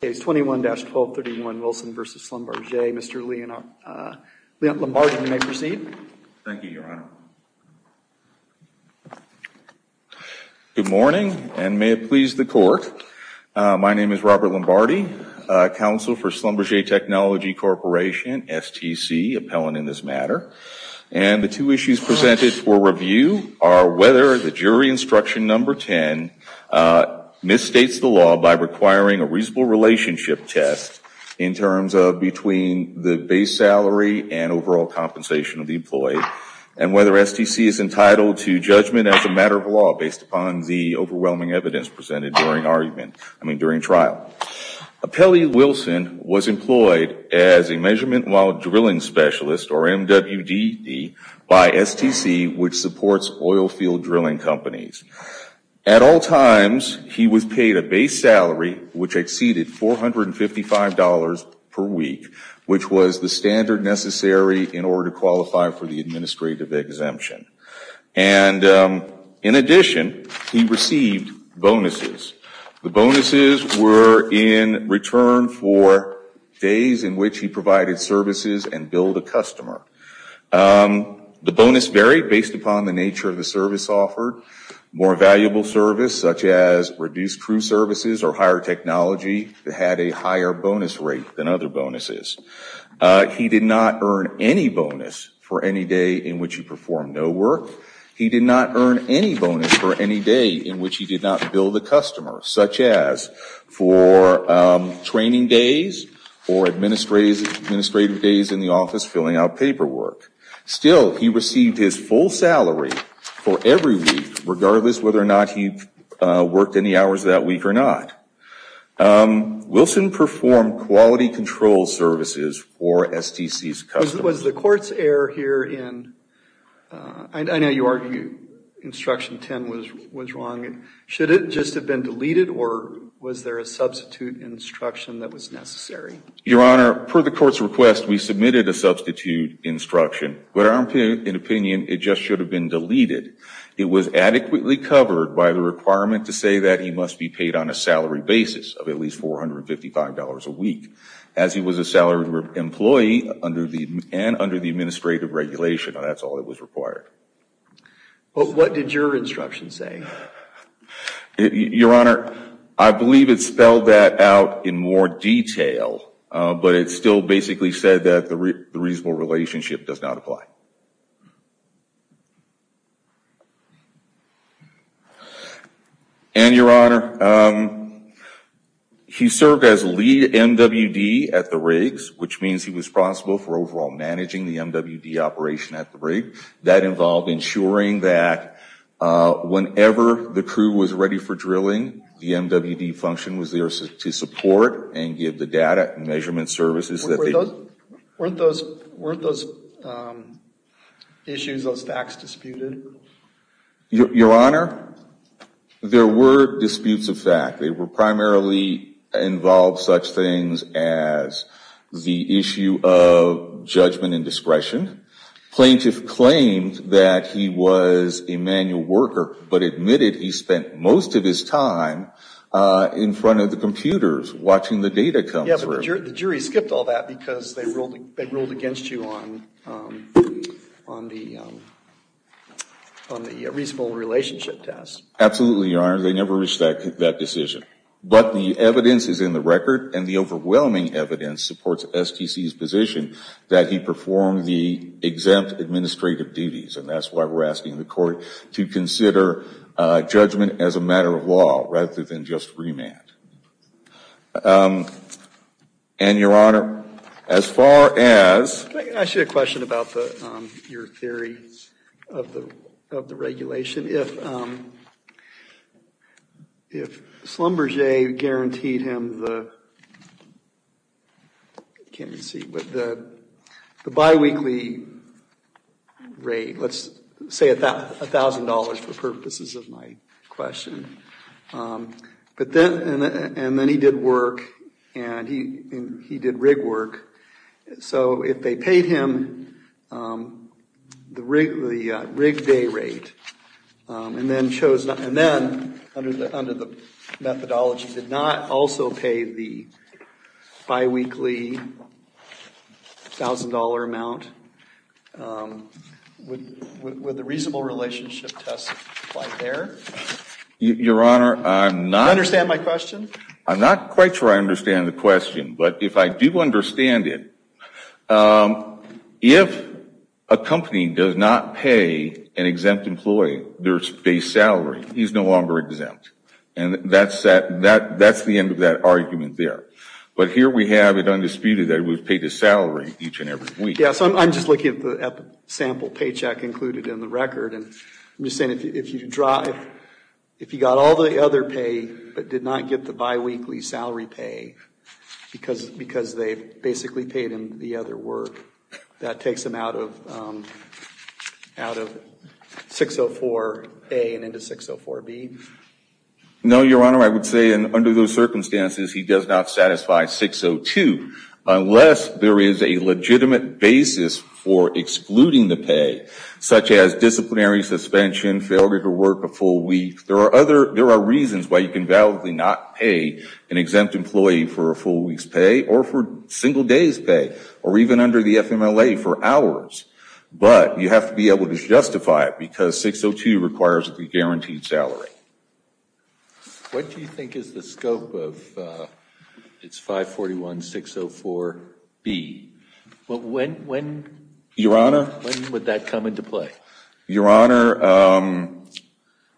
Case 21-1231, Wilson v. Schlumberger. Mr. Lombardi, you may proceed. Thank you, Your Honor. Good morning, and may it please the Court. My name is Robert Lombardi, counsel for Schlumberger Technology Corporation, STC, appellant in this matter. And the two issues presented for review are whether the jury instruction number 10 misstates the law by requiring a reusable relationship test in terms of between the base salary and overall compensation of the employee and whether STC is entitled to judgment as a matter of law based upon the overwhelming evidence presented during trial. Pelley Wilson was employed as a measurement while drilling specialist, or MWDD, by STC, which supports oil field drilling companies. At all times, he was paid a base salary which exceeded $455 per week, which was the standard necessary in order to qualify for the administrative exemption. And in addition, he received bonuses. The bonuses were in return for days in which he provided services and billed a customer. The bonus varied based upon the nature of service offered, more valuable service such as reduced crew services or higher technology that had a higher bonus rate than other bonuses. He did not earn any bonus for any day in which he performed no work. He did not earn any bonus for any day in which he did not bill the customer, such as for training days or administrative days in the office filling out paperwork. Still, he received his full salary for every week, regardless whether or not he worked any hours that week or not. Wilson performed quality control services for STC's customers. Was the court's error here in, I know you argue instruction 10 was wrong, should it just have been deleted or was there a substitute instruction that was necessary? Your Honor, per the court's request, we submitted a substitute instruction. But in our opinion, it just should have been deleted. It was adequately covered by the requirement to say that he must be paid on a salary basis of at least $455 a week, as he was a salaried employee and under the administrative regulation. That's all that was required. What did your instruction say? Your Honor, I believe it spelled that out in more detail, but it still basically said that the reasonable relationship does not apply. And, Your Honor, he served as lead MWD at the rigs, which means he was responsible for Whenever the crew was ready for drilling, the MWD function was there to support and give the data and measurement services that they... Weren't those issues, those facts disputed? Your Honor, there were disputes of fact. They were primarily involved such things as the spent most of his time in front of the computers, watching the data come through. Yeah, but the jury skipped all that because they ruled against you on the reasonable relationship test. Absolutely, Your Honor. They never reached that decision. But the evidence is in the record and the overwhelming evidence supports STC's position that he performed the exempt administrative duties. And that's why we're asking the court to consider judgment as a matter of law rather than just remand. And Your Honor, as far as... Can I ask you a question about your theory of the regulation? If Schlumberger guaranteed him the biweekly rate, let's say $1,000 for purposes of my question, and then he did work and he did rig work, so if they paid him the rig day rate and then under the methodology did not also pay the biweekly $1,000 amount, would the reasonable relationship test apply there? Your Honor, I'm not... Do you understand my question? I'm not quite sure I understand the question, but if I do understand it, if a company does not pay an exempt employee their base salary, he's no longer exempt. And that's the end of that argument there. But here we have it undisputed that it was paid to salary each and every week. Yeah, so I'm just looking at the sample paycheck included in the record, and I'm just saying if you got all the other pay but did not get the biweekly salary pay because they basically paid him the other work, that takes him out of 604A and into 604B? No, Your Honor, I would say under those circumstances he does not satisfy 602 unless there is a legitimate basis for excluding the pay, such as disciplinary suspension, failure to work a full week. There are reasons why you can validly not pay an exempt employee for a full week's pay or for single day's pay or even under the FMLA for hours. But you have to be able to justify it because 602 requires a guaranteed salary. What do you think is the scope of its 541-604B? When would that come into play? Your Honor,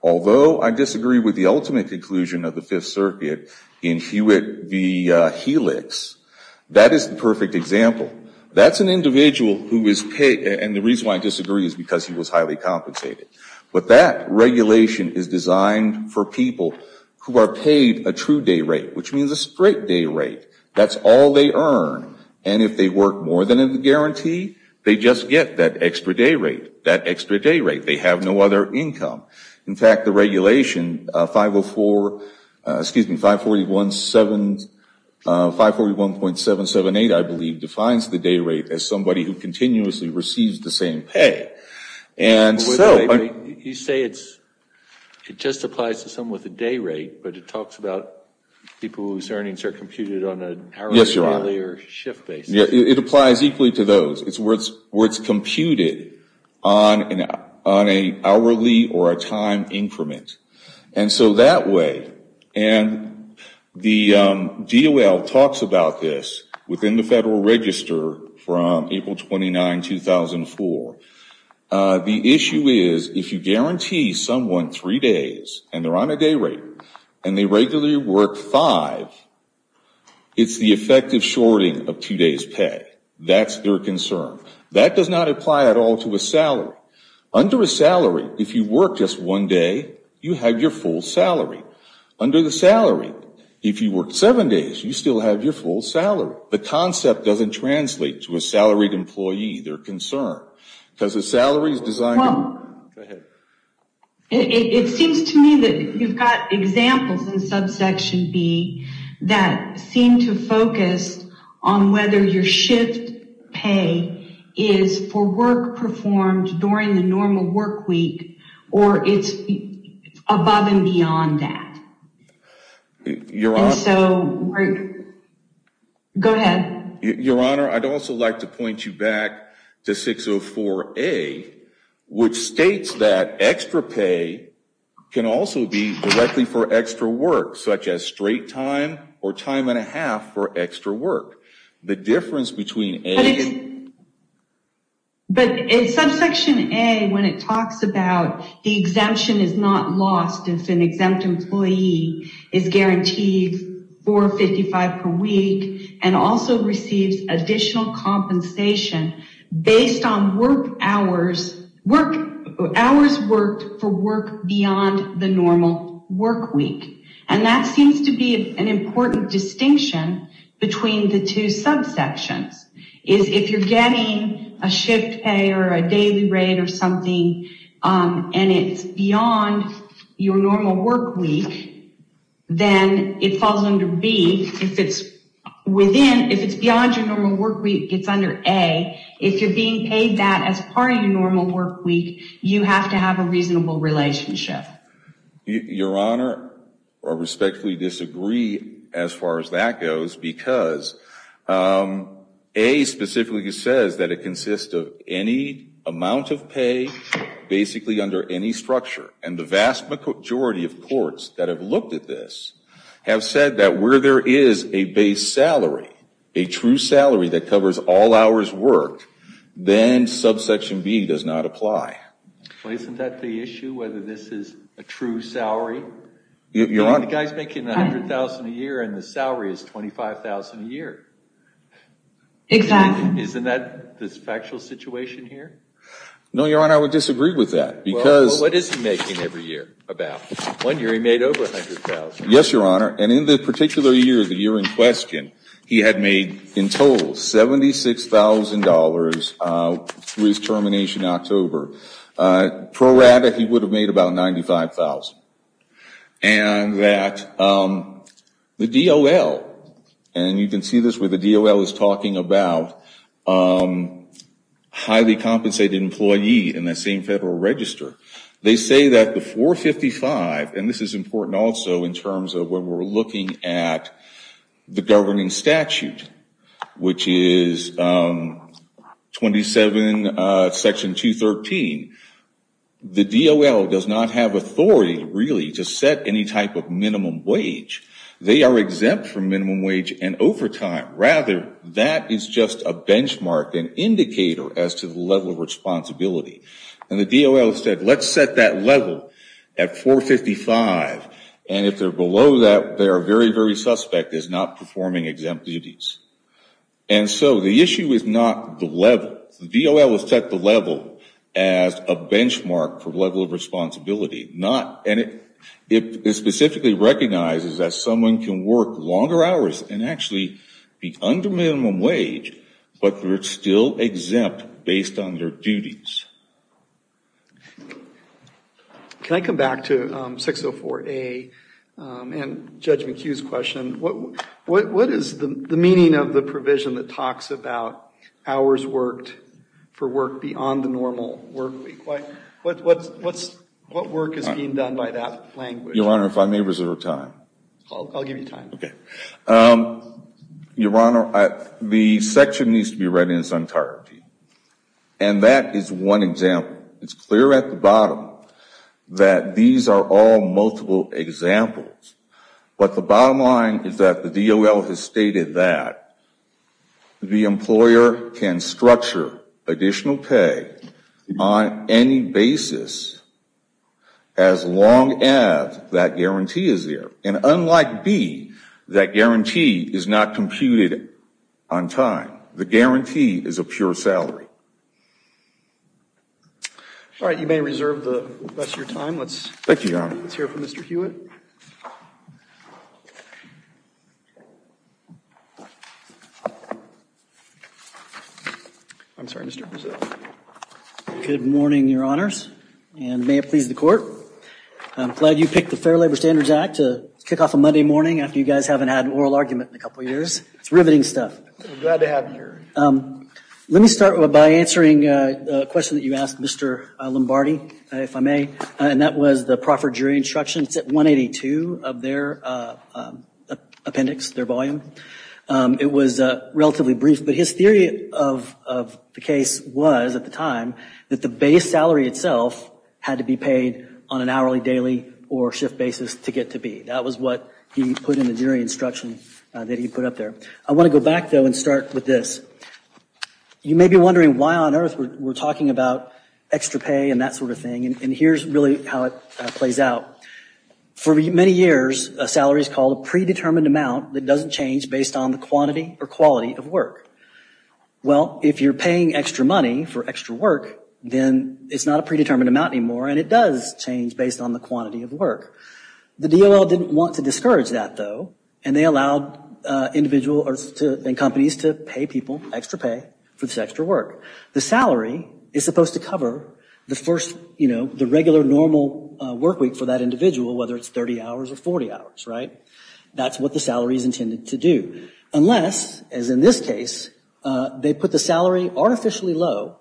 although I disagree with the ultimate conclusion of the Fifth Circuit in Hewitt v. Helix, that is the perfect example. That's an individual who is paid, and the reason why I disagree is because he was highly compensated. But that regulation is designed for people who are paid a true day rate, which means a straight day rate. That's all they earn. And if they work more than a guarantee, they just get that extra day rate. They have no other income. In fact, the regulation 541.778, I believe, defines the day rate as somebody who continuously receives the same pay. You say it just applies to someone with a day rate, but it talks about people whose it applies equally to those. It's where it's computed on an hourly or a time increment. And so that way, and the DOL talks about this within the Federal Register from April 29, 2004. The issue is if you guarantee someone three days and they're on a day rate and they regularly work five, it's the effective shorting of two days' pay. That's their concern. That does not apply at all to a salary. Under a salary, if you work just one day, you have your full salary. Under the salary, if you work seven days, you still have your full salary. The concept doesn't translate to a salaried employee, their concern, because the salary is designed to work. I have a question on subsection B that seemed to focus on whether your shift pay is for work performed during the normal work week or it's above and beyond that. Your Honor, I'd also like to point you back to 604A, which states that extra pay can also be directly for extra work, such as straight time or time and a half for extra work. The difference between A and... But in subsection A, when it talks about the exemption is not lost if an exempt employee is guaranteed $4.55 per week and also receives additional compensation based on work hours, hours worked for work beyond the normal work week. That seems to be an important distinction between the two subsections. If you're getting a shift pay or a daily rate or something and it's beyond your normal work week, then it falls under B. If it's beyond your normal work week, it's under A. If you're being paid that as part of your normal work week, you have to have a reasonable relationship. Your Honor, I respectfully disagree as far as that goes because A specifically says that it consists of any amount of pay basically under any structure. The vast majority of courts that have looked at this have said that where there is a base salary, a true salary that covers all hours worked, then subsection B does not apply. Isn't that the issue, whether this is a true salary? The guy's making $100,000 a year and the salary is $25,000 a year. Exactly. Isn't that the factual situation here? No, Your Honor, I would disagree with that because... Well, what is he making every year about? One year he made over $100,000. Yes, Your Honor, and in the particular year, the year in question, he had made in total $76,000 through his termination in October. Pro rata, he would have made about $95,000. And that the DOL, and you can see this where the DOL is talking about highly compensated employee in that same federal register, they say that the $455,000, and this is important also in terms of when we're looking at the governing statute, which is 27 section 213, the DOL does not have authority really to set any type of minimum wage. They are exempt from minimum wage and overtime. Rather, that is just a benchmark, an indicator as to the level of responsibility. And the DOL said, let's set that level at $455,000, and if they're below that, they are very, very suspect as not performing exempt duties. And so the issue is not the level. The DOL has set the level as a benchmark for level of responsibility, not, and it specifically recognizes that someone can work longer hours and actually be under minimum wage, but they're still exempt based on their duties. Can I come back to 604A and Judge McHugh's question? What is the meaning of the provision that talks about hours worked for work beyond the normal work week? What work is being done by that language? Your Honor, if I may reserve time. I'll give you time. Okay. Your Honor, the section needs to be read in its entirety. And that is one example. It's clear at the bottom that these are all multiple examples. But the bottom line is that the DOL has stated that the employer can structure additional pay on any basis as long as that guarantee is there. And unlike B, that guarantee is not computed on time. The guarantee is a pure salary. All right. You may reserve the rest of your time. Let's hear from Mr. Hewitt. I'm sorry, Mr. Presidio. Good morning, Your Honors. And may it please the Court. I'm glad you picked the Fair Labor Standards Act to kick off a Monday morning after you guys haven't had an oral argument in a couple years. It's riveting stuff. I'm glad to have you here. Let me start by answering a question that you asked Mr. Lombardi, if I may. And that was the proffer jury instruction. It's at 182 of their appendix, their volume. It was said at the time that the base salary itself had to be paid on an hourly, daily, or shift basis to get to B. That was what he put in the jury instruction that he put up there. I want to go back, though, and start with this. You may be wondering why on earth we're talking about extra pay and that sort of thing. And here's really how it plays out. For many years, a salary is called a predetermined amount that doesn't change based on the quantity or quality of work. Well, if you're paying extra money for extra work, then it's not a predetermined amount anymore, and it does change based on the quantity of work. The DOL didn't want to discourage that, though, and they allowed individuals and companies to pay people extra pay for this extra work. The salary is supposed to cover the regular normal work week for that individual, whether it's 30 hours or 40 hours, right? That's what the salary is intended to do, unless, as in this case, they put the salary artificially low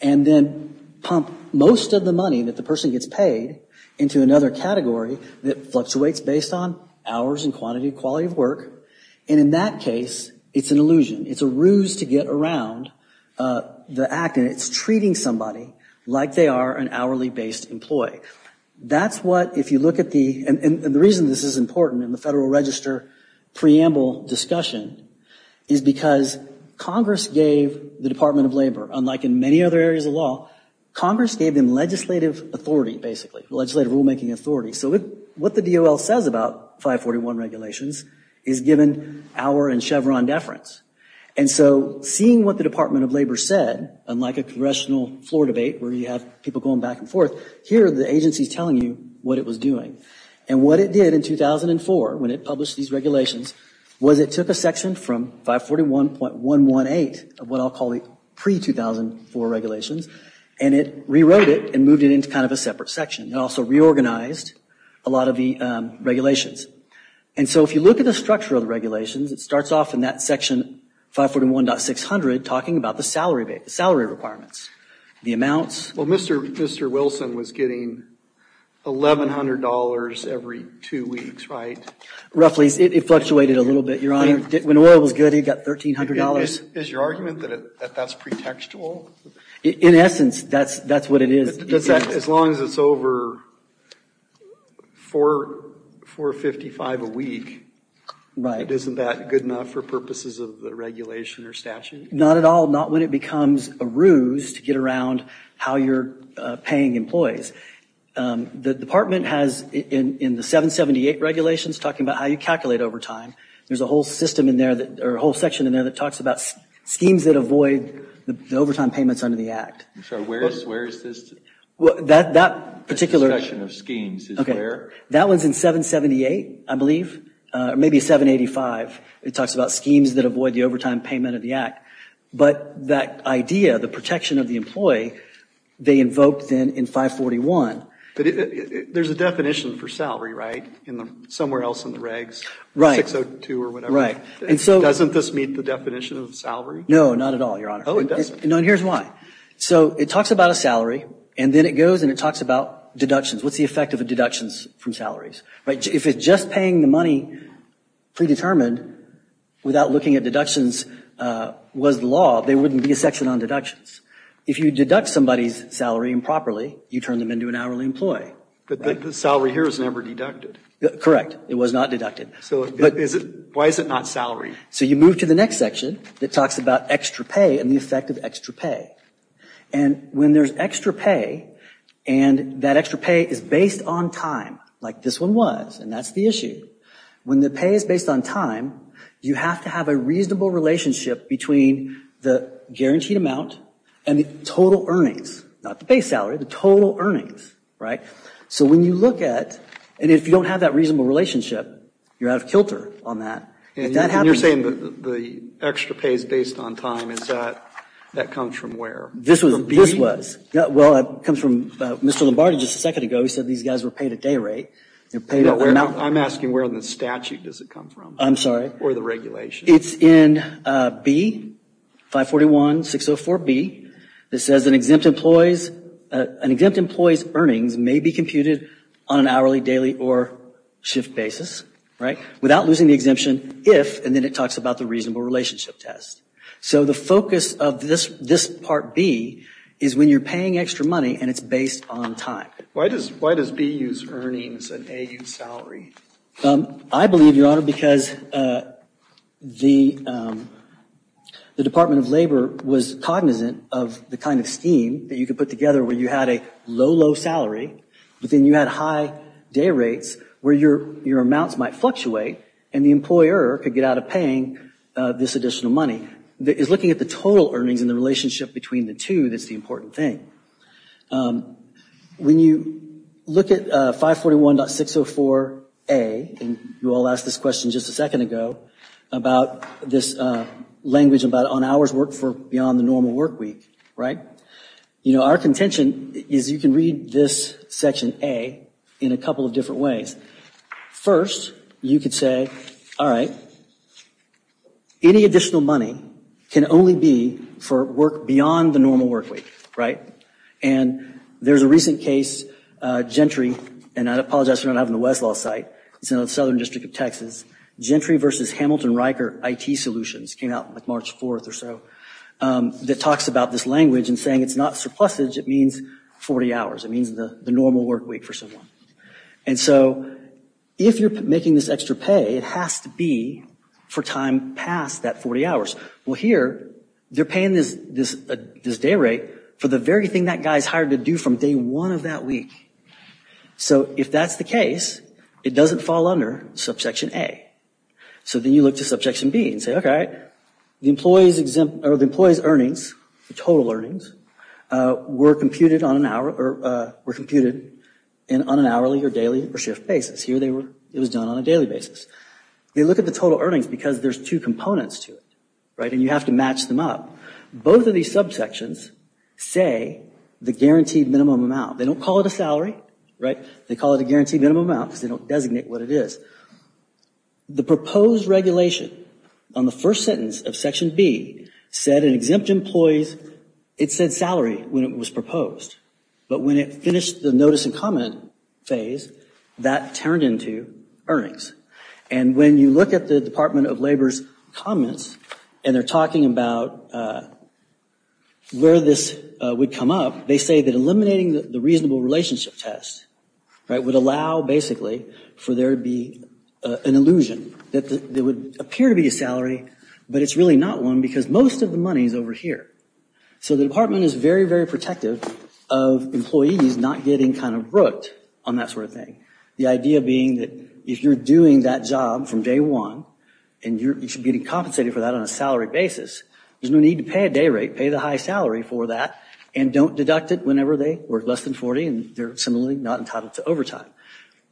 and then pump most of the money that the person gets paid into another category that fluctuates based on hours and quantity, quality of work. And in that case, it's an illusion. It's a ruse to get around the act, and it's treating somebody like they are an hourly-based employee. That's what, if you look at the, and the reason this is important in the Federal Register preamble discussion is because Congress gave the Department of Labor, unlike in many other areas of law, Congress gave them legislative authority, basically, legislative rulemaking authority. So what the DOL says about 541 regulations is given our and Chevron deference. And so seeing what the Department of Labor said, unlike a congressional floor debate where you have people going back and forth, here the agency's telling you what it was to publish these regulations, was it took a section from 541.118 of what I'll call the pre-2004 regulations, and it rewrote it and moved it into kind of a separate section. It also reorganized a lot of the regulations. And so if you look at the structure of the regulations, it starts off in that section 541.600 talking about the salary requirements, the amounts. Well, Mr. Wilson was getting $1,100 every two weeks, right? Roughly. It fluctuated a little bit, Your Honor. When oil was good, he got $1,300. Is your argument that that's pretextual? In essence, that's what it is. As long as it's over $4.55 a week, isn't that good enough for purposes of the regulation or statute? Not at all. Not when it becomes a ruse to get around how you're paying employees. The 548 regulations talking about how you calculate overtime. There's a whole section in there that talks about schemes that avoid the overtime payments under the Act. I'm sorry, where is this? That particular section of schemes is where? That one's in 778, I believe, or maybe 785. It talks about schemes that avoid the overtime payment of the Act. But that idea, the protection of the employee, they invoked then in 541. But there's a definition for salary, right? Somewhere else in the regs, 602 or whatever. Doesn't this meet the definition of salary? No, not at all, Your Honor. Oh, it doesn't? No, and here's why. So it talks about a salary, and then it goes and it talks about deductions. What's the effect of the deductions from salaries? If just paying the money predetermined without looking at deductions was the law, there wouldn't be a section on deductions. If you deduct somebody's salary improperly, you turn them into an hourly employee. But the salary here is never deducted. Correct, it was not deducted. So why is it not salary? So you move to the next section that talks about extra pay and the effect of extra pay. And when there's extra pay, and that extra pay is based on time, like this one was, and that's the issue. When the pay is based on time, you have to have a reasonable relationship between the guaranteed amount and the total earnings, not the pay salary, the total earnings. So when you look at, and if you don't have that reasonable relationship, you're out of kilter on that. And you're saying that the extra pay is based on time, is that, that comes from where? This was, well it comes from Mr. Lombardi just a second ago, he said these guys were paid a day rate. I'm asking where in the statute does it come from? I'm sorry? Or the regulation? It's in B, 541-604-B, it says an exempt employee's, an exempt employee's earnings may be computed on an hourly, daily, or shift basis, right? Without losing the exemption if, and then it talks about the reasonable relationship test. So the focus of this, this part B, is when you're paying extra money and it's based on time. Why does, why does B use earnings and A use salary? I believe, Your Honor, because the Department of Labor was cognizant of the kind of scheme that you could put together where you had a low, low salary, but then you had high day rates where your amounts might fluctuate and the employer could get out of paying this additional money. It's looking at the total earnings and the relationship between the two that's the important thing. When you look at 541-604-A, and you all asked this question just a second ago, about this language about on hours worked for beyond the normal work week, right? You know, our contention is you can read this section A in a couple of different ways. First, you could say, all right, any additional money can only be for work beyond the normal work week, right? And there's a recent case, Gentry, and I apologize for not having the Westlaw site, it's in the Southern District of Texas, Gentry versus Hamilton-Riker IT Solutions, came out like March 4th or so, that talks about this language and saying it's not surplusage, it means 40 hours. It means the normal work week for someone. And so, if you're making this extra pay, it has to be for time past that 40 hours. Well, here, they're paying this day rate for the very thing that guy's hired to do from day one of that week. So if that's the case, it doesn't fall under subsection A. So then you look to subsection B and say, okay, the employee's earnings, the total earnings, were computed on an hourly or daily or shift basis. Here it was done on a daily basis. They look at the total earnings because there's two components to it, right, and you have to match them up. Both of these subsections say the guaranteed minimum amount. They don't call it a salary, right? They call it a guaranteed minimum amount because they don't designate what it is. The proposed regulation on the first sentence of section B said an exempt employee's, it said salary when it was proposed, but when it finished the notice and comment phase, that turned into earnings. And when you look at the Department of Labor's comments, and they're talking about where this would come up, they say that eliminating the reasonable relationship test, right, would allow basically for there to be an illusion that there would appear to be a salary, but it's really not one because most of the money's over here. So the department is very, very protective of employees not getting kind of brooked on that sort of thing. The idea being that if you're doing that job from day one, and you're getting compensated for that on a salary basis, there's no need to pay a day rate. Pay the high salary for that and don't deduct it whenever they work less than 40 and they're similarly not entitled to overtime.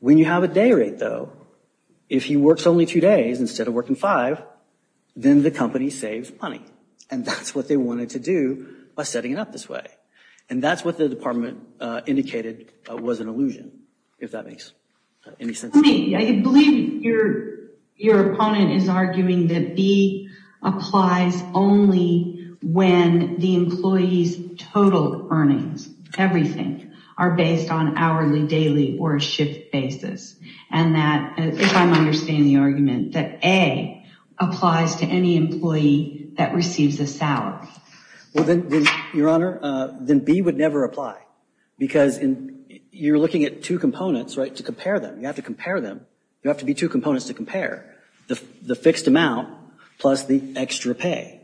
When you have a day rate though, if he works only two days instead of working five, then the company saves money. And that's what they wanted to do by setting it up this way. And that's what the department indicated was an illusion, if that makes any sense. I believe your opponent is arguing that B applies only when the employee's total earnings, everything, are based on hourly, daily, or a shift basis, and that, if I'm understanding the argument, that A applies to any employee that receives a salary. Well, then, your honor, then B would never apply because you're looking at two components, right, to compare them. You have to compare them. You have to be two components to compare the fixed amount plus the extra pay.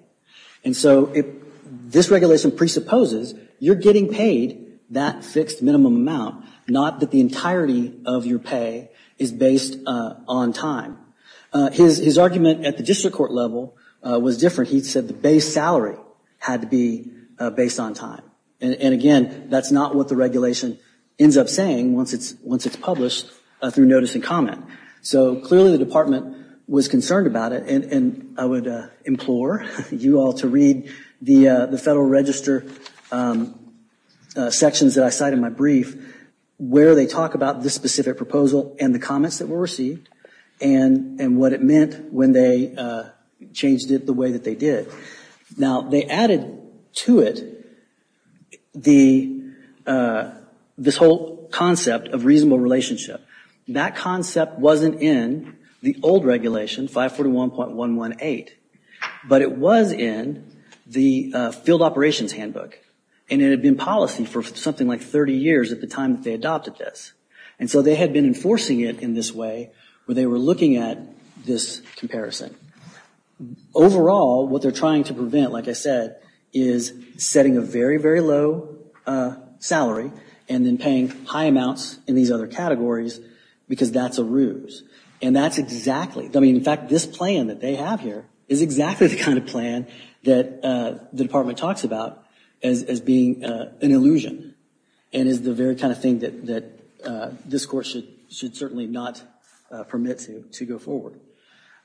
And so if this regulation presupposes you're getting paid that fixed minimum amount, not that the entirety of your pay is based on time. His argument at the district court level was different. He said the base salary had to be based on time. And again, that's not what the regulation ends up saying once it's published through notice and comment. So clearly the department was concerned about it, and I would implore you all to read the Federal Register sections that I cite in my brief where they talk about this specific proposal and the comments that were received and what it meant when they changed it the way that they did. Now, they added to it this whole concept of reasonable relationship. That concept wasn't in the old regulation, 541.118, but it was in the field operations handbook, and it had been policy for something like 30 years at the time that they adopted this. And so they had been enforcing it in this way where they were looking at this comparison. Overall, what they're trying to prevent, like I said, is setting a very, very low salary and then paying high amounts in these other categories because that's a ruse. And that's exactly, I mean, in fact, this plan that they have here is exactly the kind of plan that the department talks about as being an illusion and is the very kind of thing that this court should certainly not permit to go forward.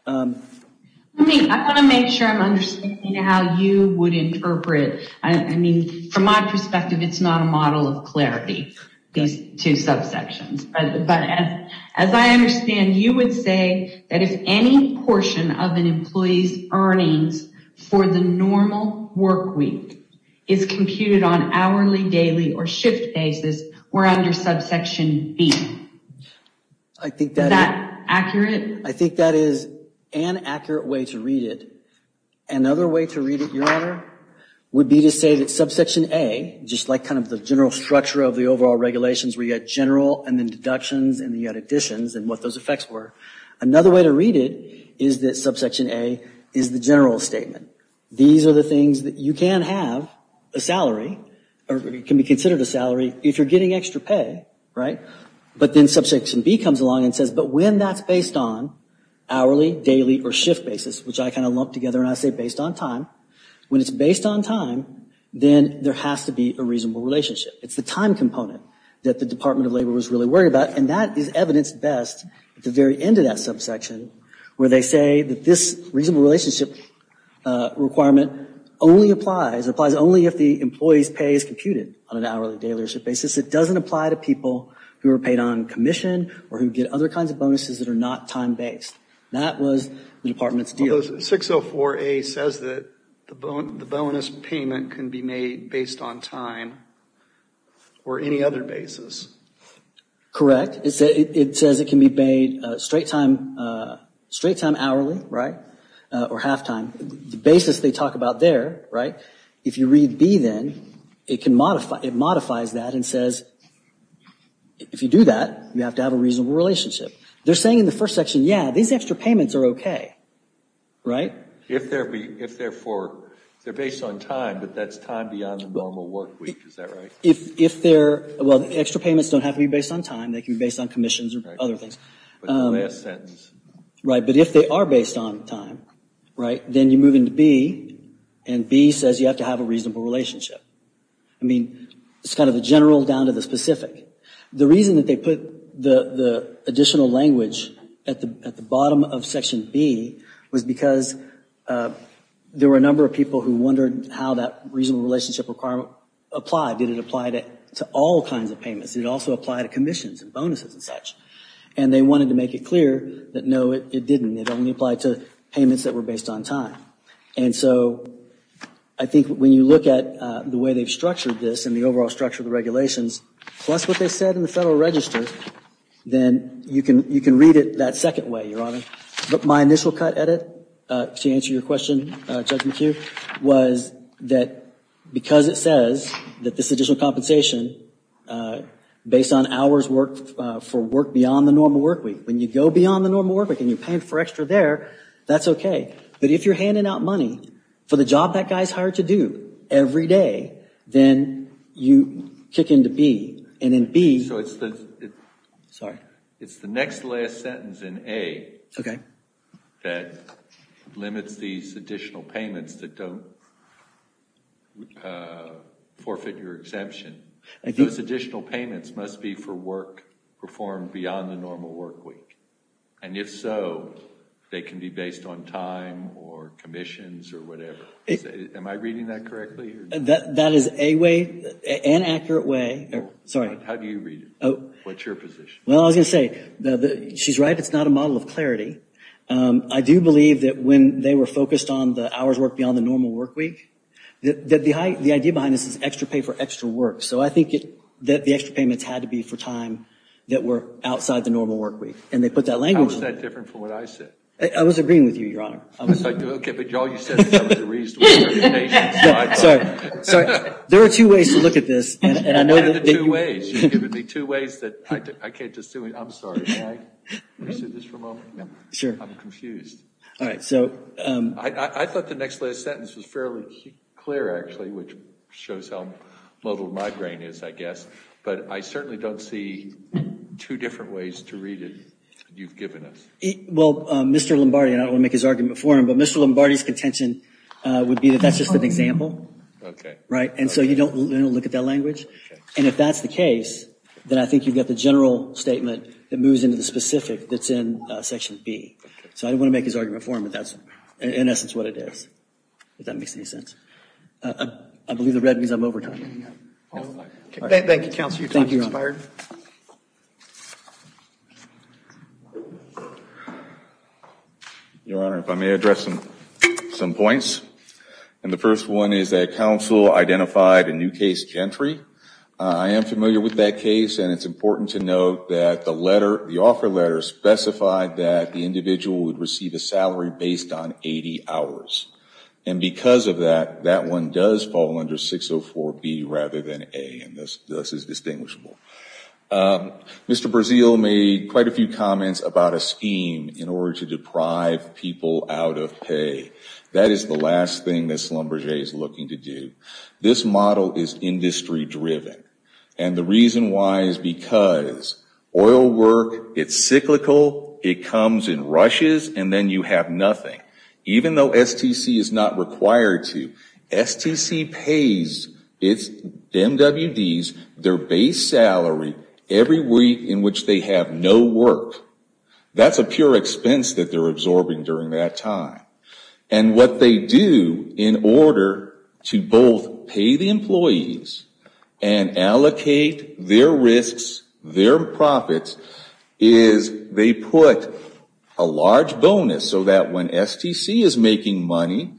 I mean, I want to make sure I'm understanding how you would interpret, I mean, from my perspective, it's not a model of clarity, these two subsections, but as I understand, you would say that if any portion of an employee's earnings for the normal work week is computed on hourly, daily, or shift basis, we're under subsection B. I think that... Is that accurate? I think that is an accurate way to read it. Another way to read it, Your Honor, would be to say that subsection A, just like kind of the general structure of the overall regulations where you had general and then deductions and then you had additions and what those effects were. Another way to read it is that subsection A is the general statement. These are the things that you can have a salary or can be considered a salary if you're getting extra pay, right? But then subsection B comes along and says, but when that's based on hourly, daily, or shift basis, which I kind of lumped together and I say based on time, when it's based on time, then there has to be a reasonable relationship. It's the time component that the Department of Labor was really worried about and that is evidenced best at the very end of that subsection where they say that this reasonable relationship requirement only applies, it applies only if the employee's pay is computed on an hourly, daily, or shift basis. It doesn't apply to people who are paid on commission or who get other kinds of bonuses that are not time-based. That was the Department's deal. 604A says that the bonus payment can be made based on time or any other basis. Correct. It says it can be made straight-time hourly, right, or half-time. The basis they talk about there, right, if you read B then, it modifies that and says if you do that, you have to have a reasonable relationship. They're saying in the first section, yeah, these extra payments are okay, right? If they're based on time, but that's time beyond the normal work week, is that right? If they're, well, the extra payments don't have to be based on time, they can be based on commissions or other things. Right, but if they are based on time, right, then you move into B and B says you have to have a reasonable relationship. I mean, it's kind of a general down to the specific. The reason that they put the additional language at the bottom of section B was because there were a number of people who wondered how that reasonable relationship requirement applied. Did it apply to all kinds of payments? Did it also apply to commissions and bonuses and such? And they wanted to make it clear that no, it didn't. It only applied to payments that were based on time. And so I think when you look at the way they've structured this and the overall structure of the regulations, plus what they said in the Federal Register, then you can read it that second way, Your Honor. But my initial cut at it, to answer your question, Judge McHugh, was that because it says that this additional compensation, based on hours worked for work beyond the normal work week, when you go beyond the normal work week and you're paying for extra there, that's okay. But if you're handing out money for the job that guy's hired to do every day, then you kick into B. And in B, it's the next last sentence in A that limits these additional payments that don't forfeit your exemption. Those additional payments must be for work performed beyond the normal work week. And if so, they can be based on time or commissions or whatever. Am I reading that correctly? That is a way, an accurate way. Sorry. How do you read it? What's your position? Well, I was going to say, she's right. It's not a model of clarity. I do believe that when they were focused on the hours worked beyond the normal work week, the idea behind this is extra pay for extra work. So I think that the extra payments had to be for time that were outside the normal work week. And they put that language in. How is that different from what I said? I was agreeing with you, Your Honor. Okay. But all you said was the reason. Sorry. There are two ways to look at this. What are the two ways? You've given me two ways. I can't just do it. I'm sorry. Can I resue this for a moment? No. I'm confused. All right. So. I thought the next last sentence was fairly clear, actually, which shows how muddled my brain is, I guess. But I certainly don't see two different ways to read it you've given us. Well, Mr. Lombardi, and I don't want to make his argument for him, but Mr. Lombardi's contention would be that that's just an example. Okay. Right? And so you don't look at that language. And if that's the case, then I think you've got the general statement that moves into the specific that's in section B. So I don't want to make his argument for him, but that's in essence what it is, if that makes any sense. I believe the red means I'm over time. Thank you, counsel. Your time has expired. Your Honor, if I may address some points, and the first one is that counsel identified a new case gentry. I am familiar with that case, and it's important to note that the letter, the offer letter specified that the individual would receive a salary based on 80 hours. And because of that, that one does fall under 604B rather than A, and thus is distinguishable. Mr. Brazeal made quite a few comments about a scheme in order to deprive people out of pay. That is the last thing this Lombardi is looking to do. This model is industry driven. And the reason why is because oil work, it's cyclical, it comes in rushes, and then you have nothing. Even though STC is not required to, STC pays its MWDs their base salary every week in which they have no work. That's a pure expense that they're absorbing during that time. And what they do in order to both pay the employees and allocate their risks, their profits, is they put a large bonus so that when STC is making money,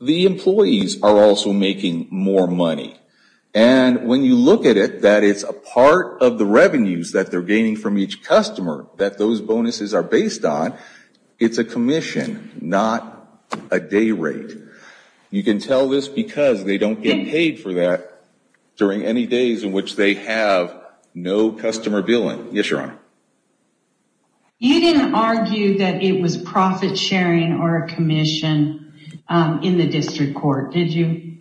the employees are also making more money. And when you look at it, that it's a part of the revenues that they're gaining from each customer that those bonuses are based on, it's a commission, not a day rate. You can tell this because they don't get paid for that during any days in which they have no customer billing. Yes, Your Honor. You didn't argue that it was profit sharing or a commission in the district court, did you?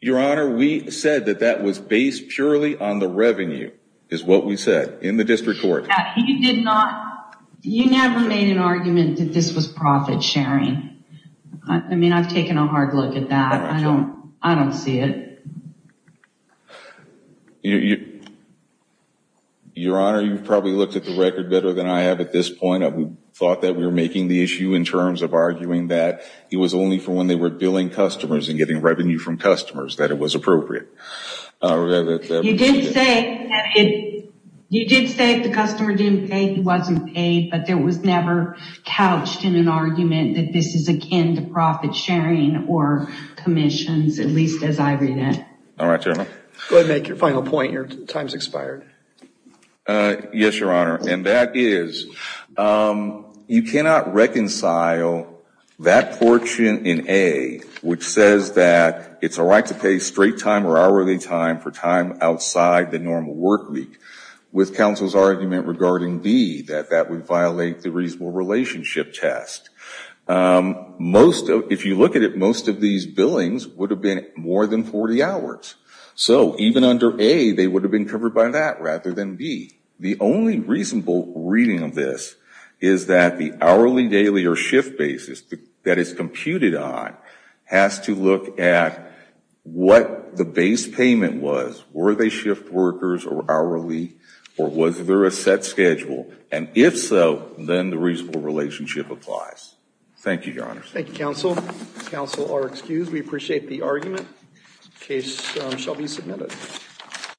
Your Honor, we said that that was based purely on the revenue, is what we said, in the district court. You never made an argument that this was profit sharing. I mean, I've taken a hard look at that. I don't see it. Your Honor, you've probably looked at the record better than I have at this point. We thought that we were making the issue in terms of arguing that it was only for when they were billing customers and getting revenue from customers that it was appropriate. You did say if the customer didn't pay, he wasn't paid, but there was never couched in an argument that this is akin to profit sharing or commissions, at least as I read it. All right, Your Honor. Go ahead and make your final point. Your time's expired. Yes, Your Honor. And that is, you cannot reconcile that portion in A, which says that it's a right to pay straight time or hourly time for time outside the normal work week, with counsel's argument regarding B, that that would violate the reasonable relationship test. If you look at it, most of these billings would have been more than 40 hours. So even under A, they would have been covered by that rather than B. The only reasonable reading of this is that the hourly, daily, or shift basis that is But the base payment was, were they shift workers or hourly, or was there a set schedule? And if so, then the reasonable relationship applies. Thank you, Your Honor. Thank you, counsel. Counsel are excused. We appreciate the argument. The case shall be submitted.